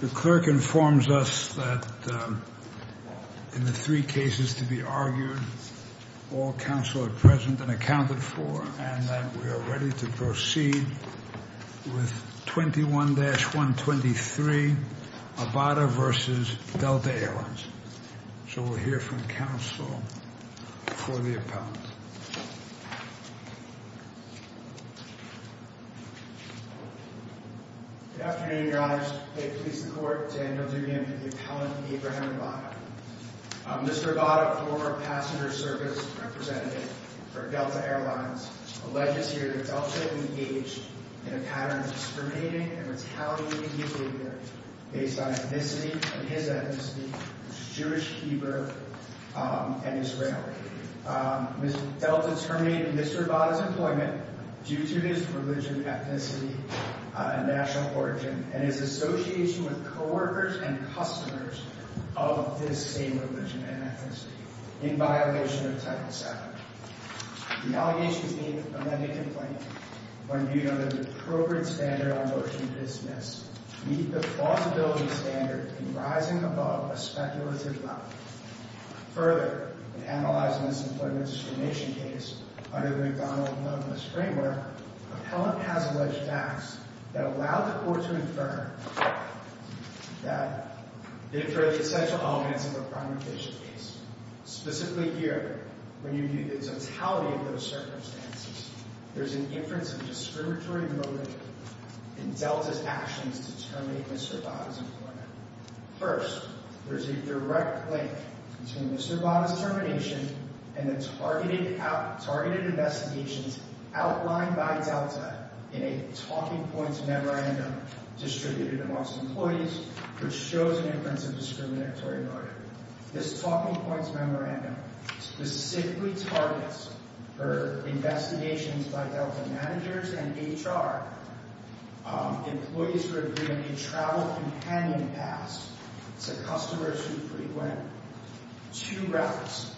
The clerk informs us that in the three cases to be argued, all counsel are present and accounted for, and that we are ready to proceed with 21-123 Abada v. Delta Air Lines. So we'll hear from counsel for the appellant. Good afternoon, Your Honors. May it please the Court, Daniel Dubian, the appellant, Abraham Abada. Mr. Abada, former passenger service representative for Delta Air Lines, alleges here that Delta engaged in a pattern of discriminating and retaliating behavior based on ethnicity and his ethnicity, Jewish, Hebrew, and Israeli. Ms. Delta terminated Mr. Abada's employment due to his religion, ethnicity, and national origin, and his association with co-workers and customers of this same religion and ethnicity, in violation of Title VII. The allegation is made that the amended complaint, when viewed under the appropriate standard on motion to dismiss, meet the plausibility standard in rising above a speculative level. Further, in analyzing this employment discrimination case under the McDonald-Milnes framework, the appellant has alleged facts that allow the Court to infer that they are the essential elements of a primary patient case. Specifically here, when you view the totality of those circumstances, there is an inference of discriminatory motive in Delta's actions to terminate Mr. Abada's employment. First, there is a direct link between Mr. Abada's termination and the targeted investigations outlined by Delta in a Talking Points Memorandum distributed amongst employees, which shows an inference of discriminatory motive. This Talking Points Memorandum specifically targets for investigations by Delta managers and HR employees who have given a travel companion pass to customers who frequent two routes,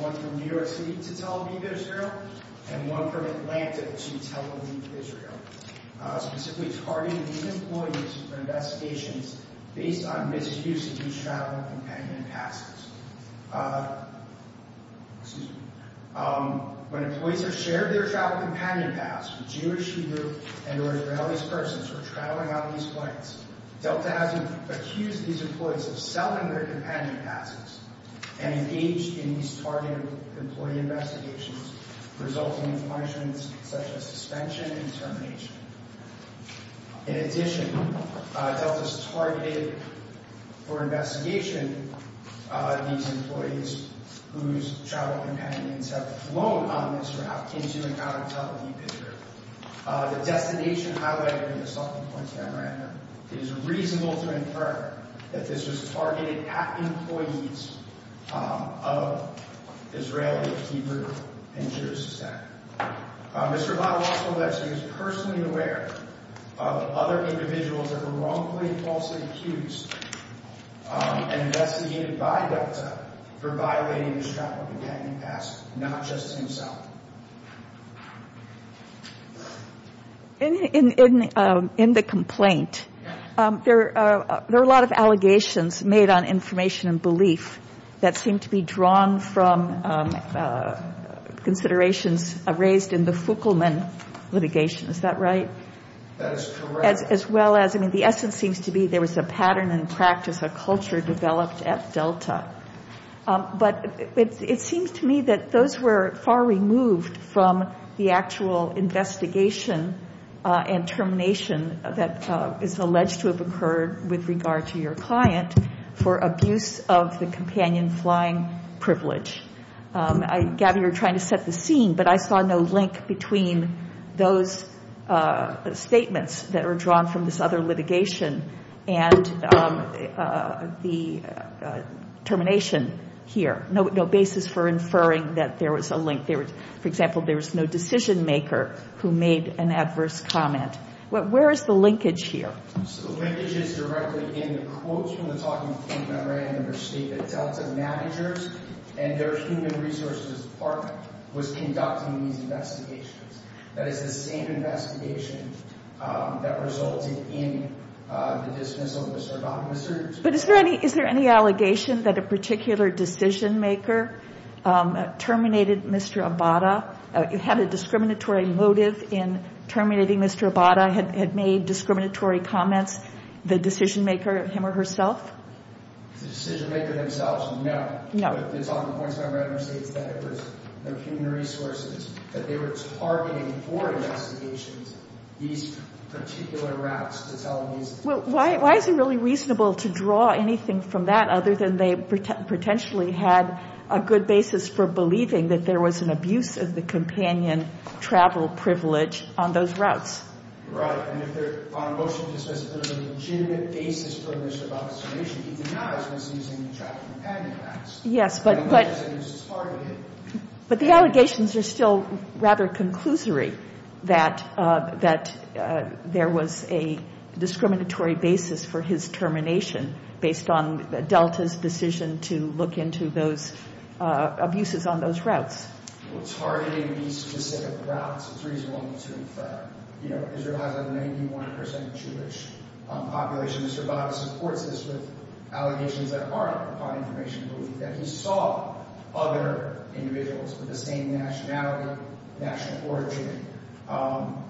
one from New York City to Tel Aviv, Israel, and one from Atlanta to Tel Aviv, Israel, specifically targeting these employees for investigations based on misuse of these travel companion passes. Excuse me. When employees have shared their travel companion pass with Jewish, Hebrew, and Oriental Israelis persons who are traveling out of these flights, Delta has accused these employees of selling their companion passes and engaged in these targeted employee investigations, resulting in punishments such as suspension and termination. In addition, Delta has targeted for investigation these employees whose travel companions have flown on this route into and out of Tel Aviv, Israel. The destination highlighted in the Talking Points Memorandum is reasonable to infer that this was targeted at employees of Israeli, Hebrew, and Jewish descent. Mr. Vada-Rosalevsky is personally aware of other individuals that were wrongfully and falsely accused and investigated by Delta for violating this travel companion pass, not just himself. In the complaint, there are a lot of allegations made on information and belief that seem to be drawn from considerations raised in the Fukelman litigation. Is that right? That is correct. As well as, I mean, the essence seems to be there was a pattern and practice, a culture developed at Delta. But it seems to me that those were far removed from the actual investigation and termination that is alleged to have occurred with regard to your client for abuse of the companion flying privilege. Gabby, you're trying to set the scene, but I saw no link between those statements that were drawn from this other litigation and the termination here. No basis for inferring that there was a link. For example, there was no decision maker who made an adverse comment. Where is the linkage here? The linkage is directly in the quotes from the talking point memorandum that state that Delta managers and their human resources department was conducting these investigations. That is the same investigation that resulted in the dismissal of Mr. Abada. But is there any allegation that a particular decision maker terminated Mr. Abada? It had a discriminatory motive in terminating Mr. Abada. It had made discriminatory comments. The decision maker, him or herself? The decision maker themselves? No. No. But it's on the points of the memorandum that states that it was their human resources that they were targeting for investigations these particular raps to tell these. Well, why is it really reasonable to draw anything from that other than they potentially had a good basis for believing that there was an abuse of the companion travel privilege on those routes? Right. And if they're on a motion that says there's a legitimate basis for Mr. Abada's termination, he denies that he was using the travel companion pass. Yes, but the allegations are still rather conclusory that there was a discriminatory basis for his termination based on Delta's decision to look into those abuses on those routes. Well, targeting these specific routes, it's reasonable to infer. You know, Israel has a 91 percent Jewish population. Mr. Abada supports this with allegations that are upon information that he saw other individuals with the same nationality, national origin,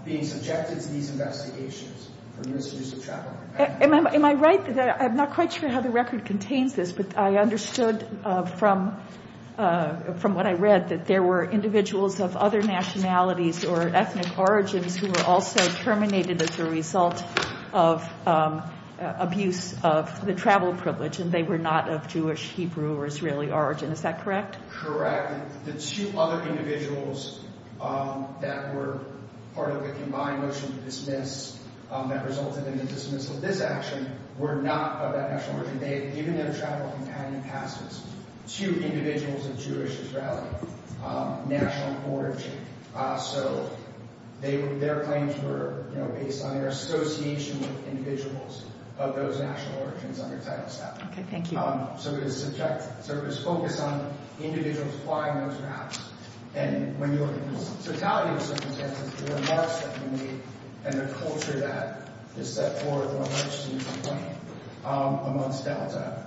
being subjected to these investigations for misuse of travel. Am I right that I'm not quite sure how the record contains this, but I understood from what I read that there were individuals of other nationalities or ethnic origins who were also terminated as a result of abuse of the travel privilege, and they were not of Jewish, Hebrew, or Israeli origin. Is that correct? Correct. The two other individuals that were part of the combined motion to dismiss that resulted in the dismissal of this action were not of that national origin. They had given their travel companion passes to individuals of Jewish, Israeli national origin. So their claims were, you know, based on their association with individuals of those national origins under Title VII. Okay. Thank you. So it was focused on individuals flying those routes. And when you look at the totality of circumstances, the remarks that were made and the culture that is set forth on what seems to be planned amongst Delta,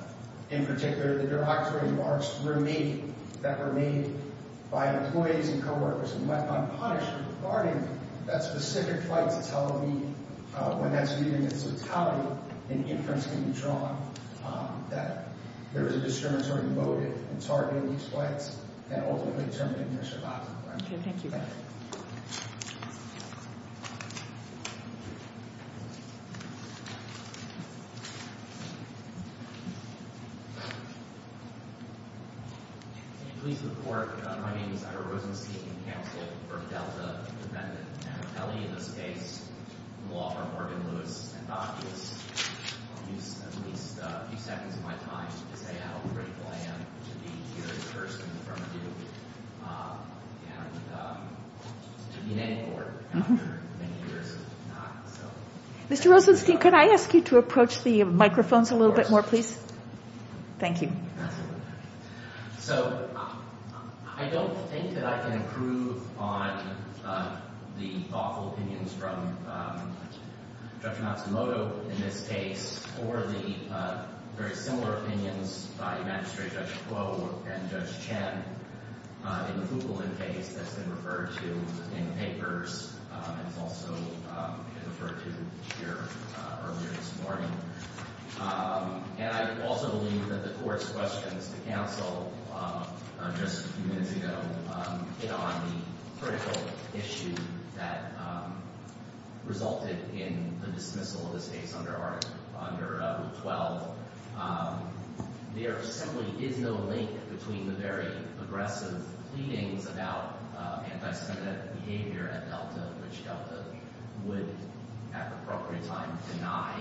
in particular, the direct remarks that were made by employees and coworkers and went unpunished regarding that specific flight to Tel Aviv, when that's reading its totality, an inference can be drawn that there was a discriminatory motive in targeting these flights that ultimately terminated their Shabbat. Okay. Thank you. Thank you. Can you please report? My name is Ira Rosenstein, counsel for Delta Independent. I have Kelly in this case, Laura Morgan-Lewis, and Doc is, I'll use at least a few seconds of my time to say how grateful I am to be here in person in front of you. And to be in any court after many years of not. Mr. Rosenstein, could I ask you to approach the microphones a little bit more, please? Of course. Thank you. So I don't think that I can improve on the thoughtful opinions from Judge Matsumoto in this case or the very similar opinions by Magistrate Judge Kuo and Judge Chen in the Kugelin case that's been referred to in papers and has also been referred to here earlier this morning. And I also believe that the Court's questions to counsel just a few minutes ago hit on the critical issue that resulted in the dismissal of this case under Article 12. There simply is no link between the very aggressive pleadings about anti-Semitic behavior at Delta, which Delta would, at the appropriate time, deny.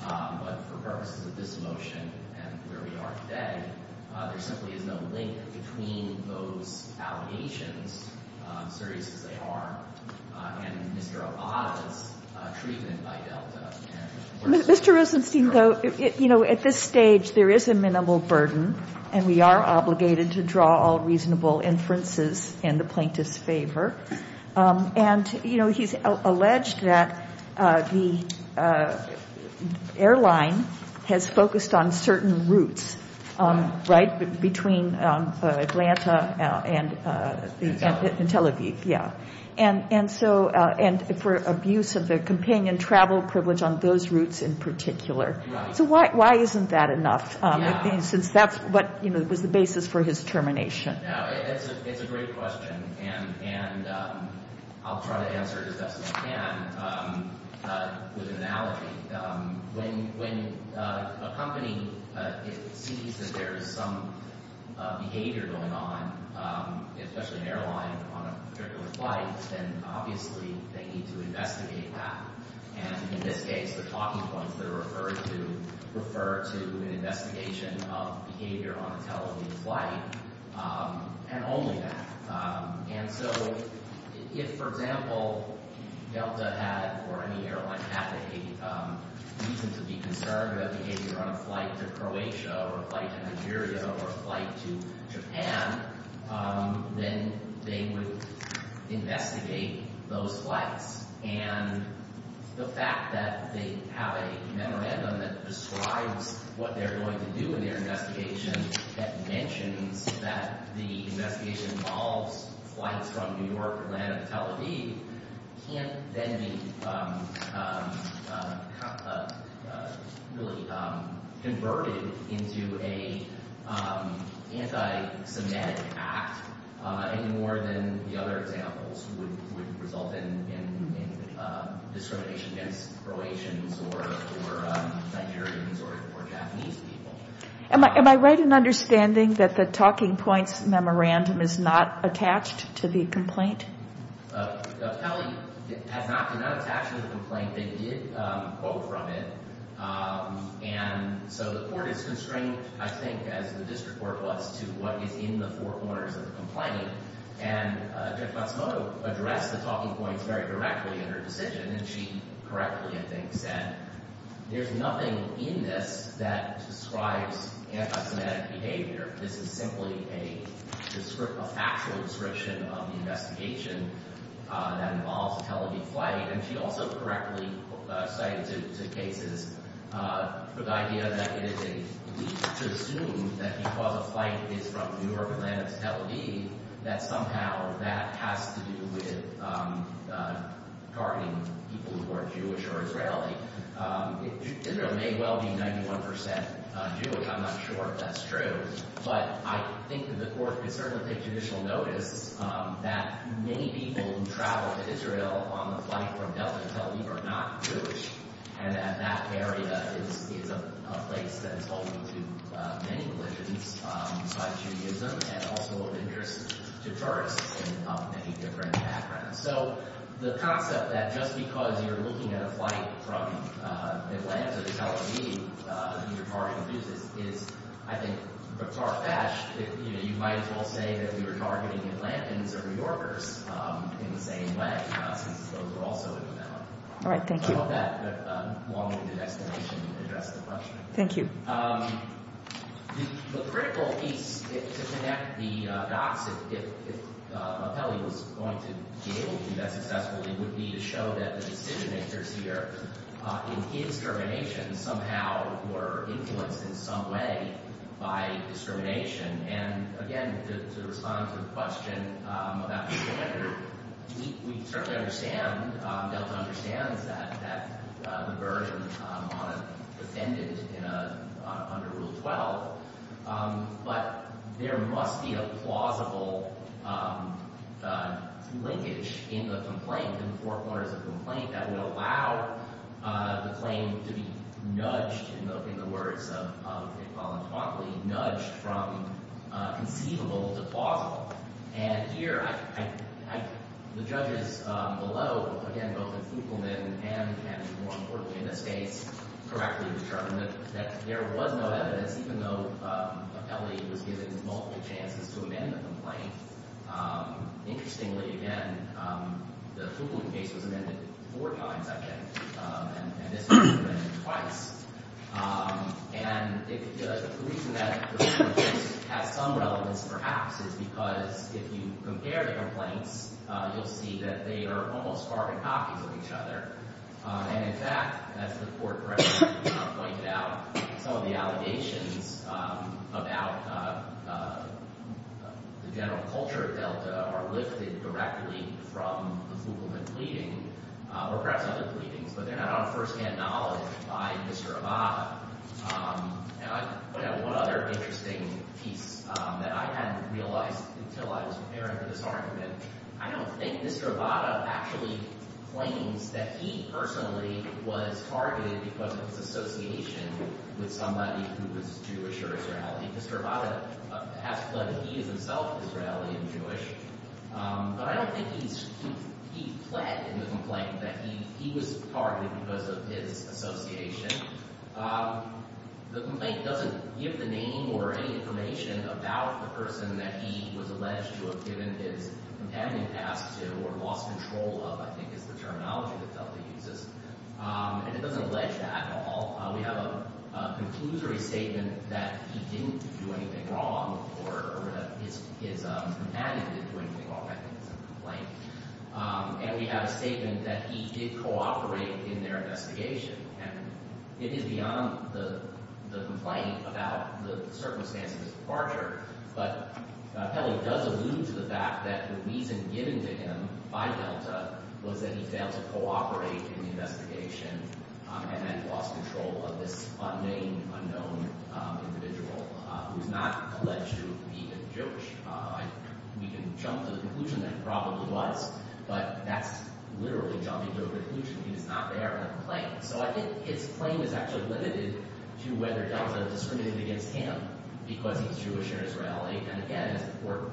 But for purposes of this motion and where we are today, there simply is no link between those allegations, serious as they are, and Mr. Abada's treatment by Delta. Mr. Rosenstein, though, at this stage, there is a minimal burden, and we are obligated to draw all reasonable inferences in the plaintiff's favor. And, you know, he's alleged that the airline has focused on certain routes, right, between Atlanta and Tel Aviv, yeah, and for abuse of the companion travel privilege on those routes in particular. So why isn't that enough, since that's what was the basis for his termination? No, it's a great question, and I'll try to answer it as best as I can with an analogy. When a company sees that there is some behavior going on, especially an airline on a particular flight, then obviously they need to investigate that. And in this case, the talking points that are referred to refer to an investigation of behavior on a Tel Aviv flight. And only that. And so if, for example, Delta had or any airline had a reason to be concerned about behavior on a flight to Croatia or a flight to Nigeria or a flight to Japan, then they would investigate those flights. And the fact that they have a memorandum that describes what they're going to do in their investigation that mentions that the investigation involves flights from New York or Atlanta to Tel Aviv can't then be really converted into an anti-Semitic act any more than the other examples would result in discrimination against Croatians or Nigerians or Japanese people. Am I right in understanding that the talking points memorandum is not attached to the complaint? Kelly has not been attached to the complaint. They did quote from it. And so the court is constrained, I think, as the district court was, to what is in the four corners of the complaint. And Judge Matsumoto addressed the talking points very directly in her decision, and she correctly, I think, said there's nothing in this that describes anti-Semitic behavior. This is simply a factual description of the investigation that involves a Tel Aviv flight. And she also correctly cited two cases for the idea that it is a leap to assume that because a flight is from New York, Atlanta, to Tel Aviv, that somehow that has to do with targeting people who are Jewish or Israeli. Israel may well be 91 percent Jewish. I'm not sure if that's true. But I think that the court could certainly take judicial notice that many people who travel to Israel on the flight from Delta to Tel Aviv are not Jewish, and that that area is a place that is holding to many religions by Judaism and also of interest to tourists in many different backgrounds. So the concept that just because you're looking at a flight from Atlanta to Tel Aviv, you're targeting Jews is, I think, far-fetched. You might as well say that we were targeting Atlantans or New Yorkers in the same way, not since those were also in the memo. All right, thank you. I hope that long-winded estimation addressed the question. Thank you. The critical piece to connect the dots, if Rapelli was going to be able to do that successfully, would be to show that the decision-makers here in his termination somehow were influenced in some way by discrimination. And again, to respond to the question about the defender, we certainly understand, Delta understands, that the burden on a defendant under Rule 12, but there must be a plausible linkage in the complaint, in the forecourt as a complaint, that would allow the claim to be nudged, nudged in the words of Iqbal and Tawakoli, nudged from conceivable to plausible. And here, the judges below, again, both in Fugleman and, more importantly in this case, correctly determined that there was no evidence, even though Rapelli was given multiple chances to amend the complaint. Interestingly, again, the Fuglen case was amended four times, I think, and this one was amended twice. And the reason that the Fuglen case has some relevance, perhaps, is because if you compare the complaints, you'll see that they are almost carbon copies of each other. And in fact, as the Court correctly pointed out, some of the allegations about the general culture of Delta are lifted directly from the Fugleman pleading, or perhaps other pleadings, but they're not on first-hand knowledge by Mr. Abada. And I've got one other interesting piece that I hadn't realized until I was preparing for this argument. I don't think Mr. Abada actually claims that he personally was targeted because of his association with somebody who was Jewish or Israeli. Mr. Abada has pledged that he is himself Israeli and Jewish, but I don't think he pled in the complaint that he was targeted because of his association. The complaint doesn't give the name or any information about the person that he was alleged to have given his companion pass to or lost control of, I think, is the terminology that Delta uses. And it doesn't allege that at all. We have a conclusory statement that he didn't do anything wrong or that his companion didn't do anything wrong. I think it's a complaint. And we have a statement that he did cooperate in their investigation. And it is beyond the complaint about the circumstances of departure, but Pelley does allude to the fact that the reason given to him by Delta was that he failed to cooperate in the investigation and then lost control of this unnamed, unknown individual who's not alleged to be a Jewish. We can jump to the conclusion that he probably was, but that's literally jumping to a conclusion. He's not there on the complaint. So I think his claim is actually limited to whether Delta discriminated against him because he's Jewish or Israeli. And again, as the Court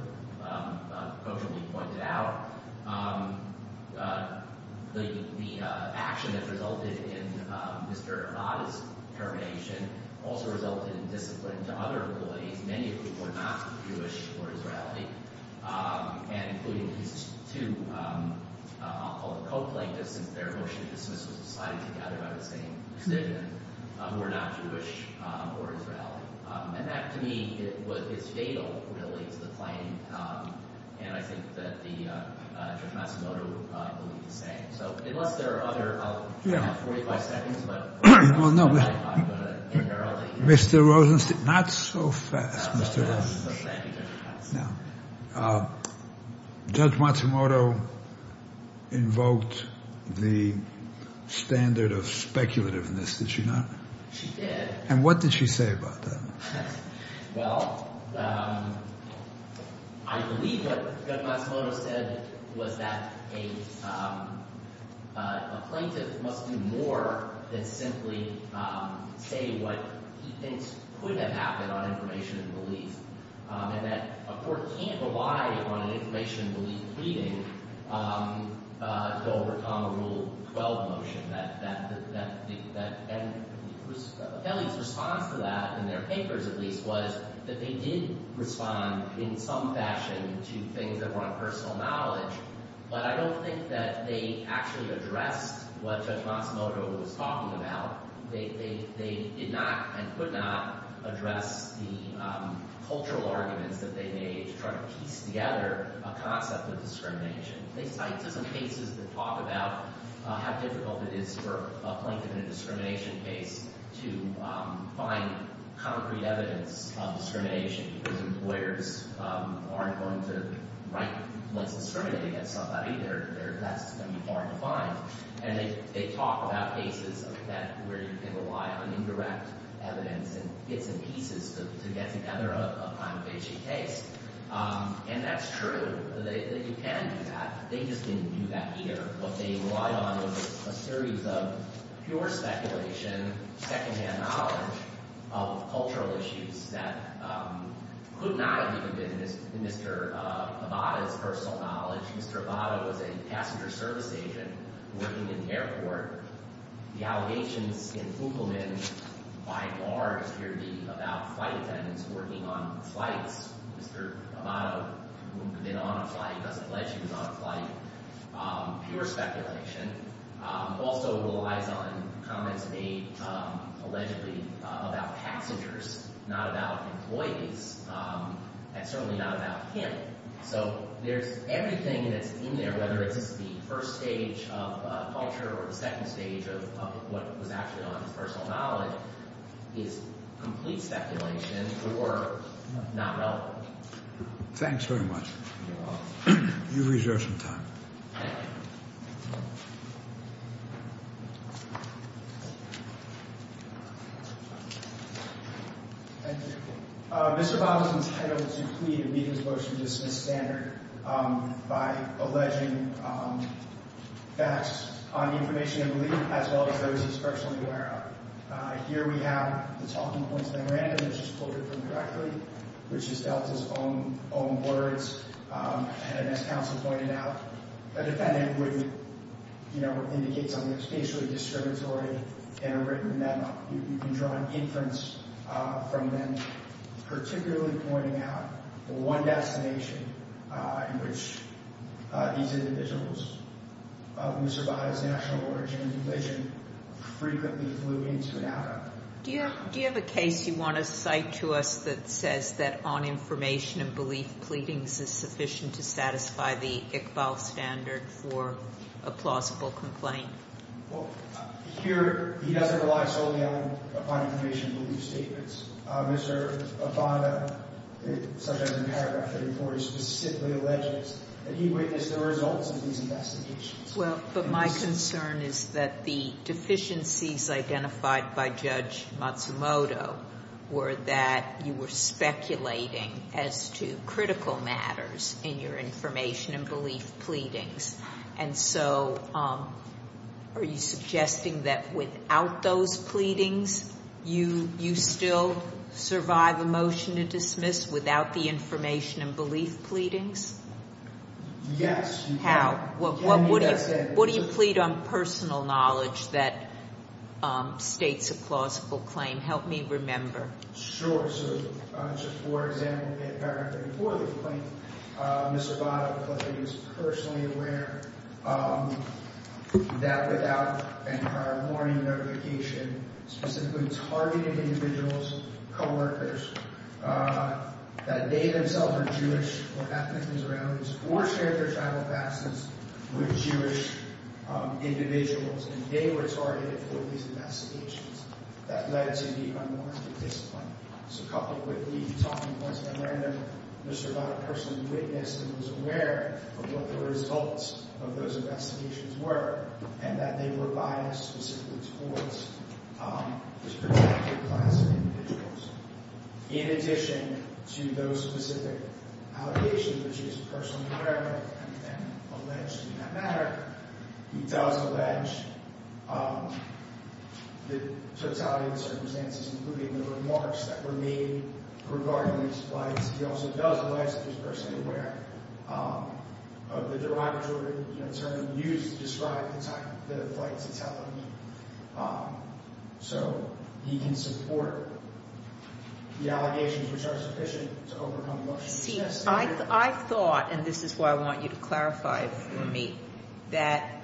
quotably pointed out, the action that resulted in Mr. Abad's termination also resulted in discipline to other abilities, many of which were not Jewish or Israeli, and including these two, I'll call them co-plaintiffs, since their motion to dismiss was decided together by the same decision, were not Jewish or Israeli. And that, to me, is fatal, really, to the claim. And I think that Judge Matsumoto would believe the same. So unless there are other... I'll have 45 seconds, but... Well, no, Mr. Rosenstein, not so fast, Mr. Rosenstein. Now, Judge Matsumoto invoked the standard of speculativeness, did she not? She did. And what did she say about that? Well, I believe what Judge Matsumoto said was that a plaintiff must do more than simply say what he thinks could have happened on information and belief, and that a court can't rely on an information and belief pleading to overcome a Rule 12 motion. Kelly's response to that, in their papers at least, was that they did respond in some fashion to things that were on personal knowledge, but I don't think that they actually addressed what Judge Matsumoto was talking about. They did not and could not address the cultural arguments that they made to try to piece together a concept of discrimination. They cite some cases that talk about how difficult it is for a plaintiff in a discrimination case to find concrete evidence of discrimination, because employers aren't going to write what's discriminated against somebody. That's going to be hard to find. And they talk about cases where you can rely on indirect evidence and get some pieces to get together a kind of H.E. case. And that's true. You can do that. They just didn't do that either. What they relied on was a series of pure speculation, second-hand knowledge of cultural issues that could not have even been Mr. Abada's personal knowledge. Mr. Abada was a passenger service agent working in the airport. The allegations in Fugleman by far appear to be about flight attendants working on flights. Mr. Abada, who had been on a flight, doesn't allege he was on a flight. Pure speculation. Also relies on comments made, allegedly, about passengers, not about employees, and certainly not about him. So there's everything that's in there, whether it's the first stage of culture or the second stage of what was actually on his personal knowledge, is complete speculation or not relevant. Thanks very much. You've reserved some time. Thank you. Thank you. Mr. Abada is entitled to plead and be in his motion to dismiss standard by alleging facts on the information in the leaf, as well as those he's personally aware of. Here we have the talking points of the Miranda, which is quoted from directly, which is Delta's own words. And as counsel pointed out, a defendant would, you know, indicate something spatially discriminatory in a written memo. You can draw an inference from them, particularly pointing out the one destination in which these individuals of Mr. Abada's national origin and religion frequently flew into and out of. Do you have a case you want to cite to us that says that on information and belief pleadings is sufficient to satisfy the Iqbal standard for a plausible complaint? Well, here he doesn't rely solely upon information and belief statements. Mr. Abada, it says in the paragraph that he specifically alleges that he witnessed the results of these investigations. Well, but my concern is that the deficiencies identified by Judge Matsumoto were that you were speculating as to critical matters in your information and belief pleadings. And so are you suggesting that without those pleadings, you still survive a motion to dismiss without the information and belief pleadings? Yes. How? What do you plead on personal knowledge that states a plausible claim? Help me remember. Sure. So just for example, in paragraph 34 of the claim, Mr. Abada was personally aware that without any prior warning notification, specifically targeted individuals, co-workers, that they themselves are Jewish or ethnic and surrounding, or shared their tribal past with Jewish individuals, and they were targeted for these investigations. That led to the unwarranted discipline. Just a couple quickly talking points. I learned that Mr. Abada personally witnessed and was aware of what the results of those investigations were, and that they were biased specifically towards this particular class of individuals. In addition to those specific allegations, which he is personally aware of and alleged to not matter, he does allege the totality of the circumstances, including the remarks that were made regarding these flights. He also does allege that he's personally aware of the derogatory term used to describe the type of flights that's happening. So he can support the allegations which are sufficient to overcome the motion. See, I thought, and this is why I want you to clarify it for me, that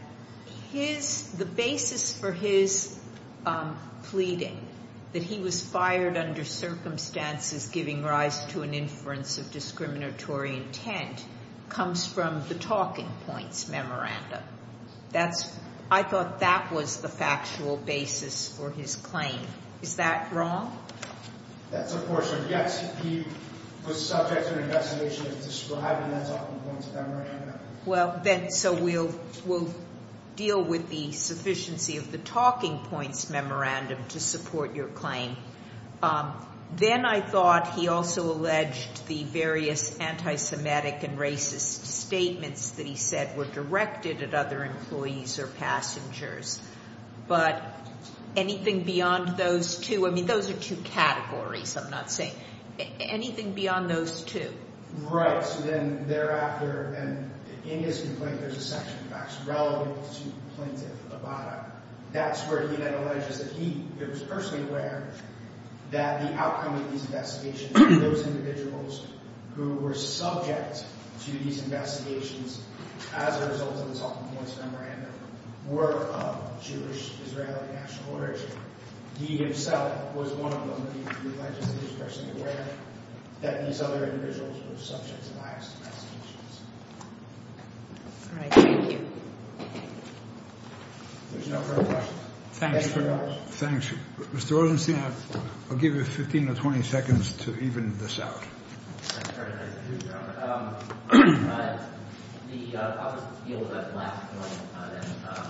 the basis for his pleading, that he was fired under circumstances giving rise to an inference of discriminatory intent, comes from the talking points memorandum. I thought that was the factual basis for his claim. Is that wrong? That's a portion, yes. He was subject to an investigation of describing the talking points memorandum. So we'll deal with the sufficiency of the talking points memorandum to support your claim. Then I thought he also alleged the various anti-Semitic and racist statements that he said were directed at other employees or passengers. But anything beyond those two? I mean, those are two categories. I'm not saying anything beyond those two. Right. So then thereafter, and in his complaint, there's a section of facts relevant to Plaintiff Abada. That's where he then alleges that he was personally aware that the outcome of these investigations, that those individuals who were subject to these investigations as a result of the talking points memorandum, were of Jewish-Israeli national origin. He himself was one of them. He alleged that he was personally aware that these other individuals were subject to bias investigations. All right. Thank you. There's no further questions. Thank you very much. Thank you. Mr. Rosenstein, I'll give you 15 or 20 seconds to even this out. I'm sorry to interrupt. The public's view was that in the last complaint, that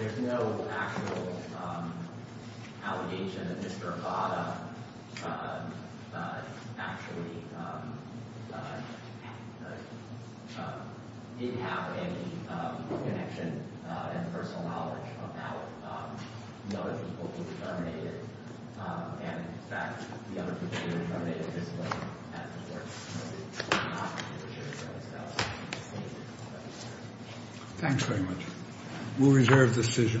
there's no actual allegation that Mr. Abada actually did have any connection and personal knowledge about the other people who were terminated. And, in fact, the other people who were terminated this way, as reported, were not Jewish-Israelis. Thank you. Thanks very much. We'll reserve the decision.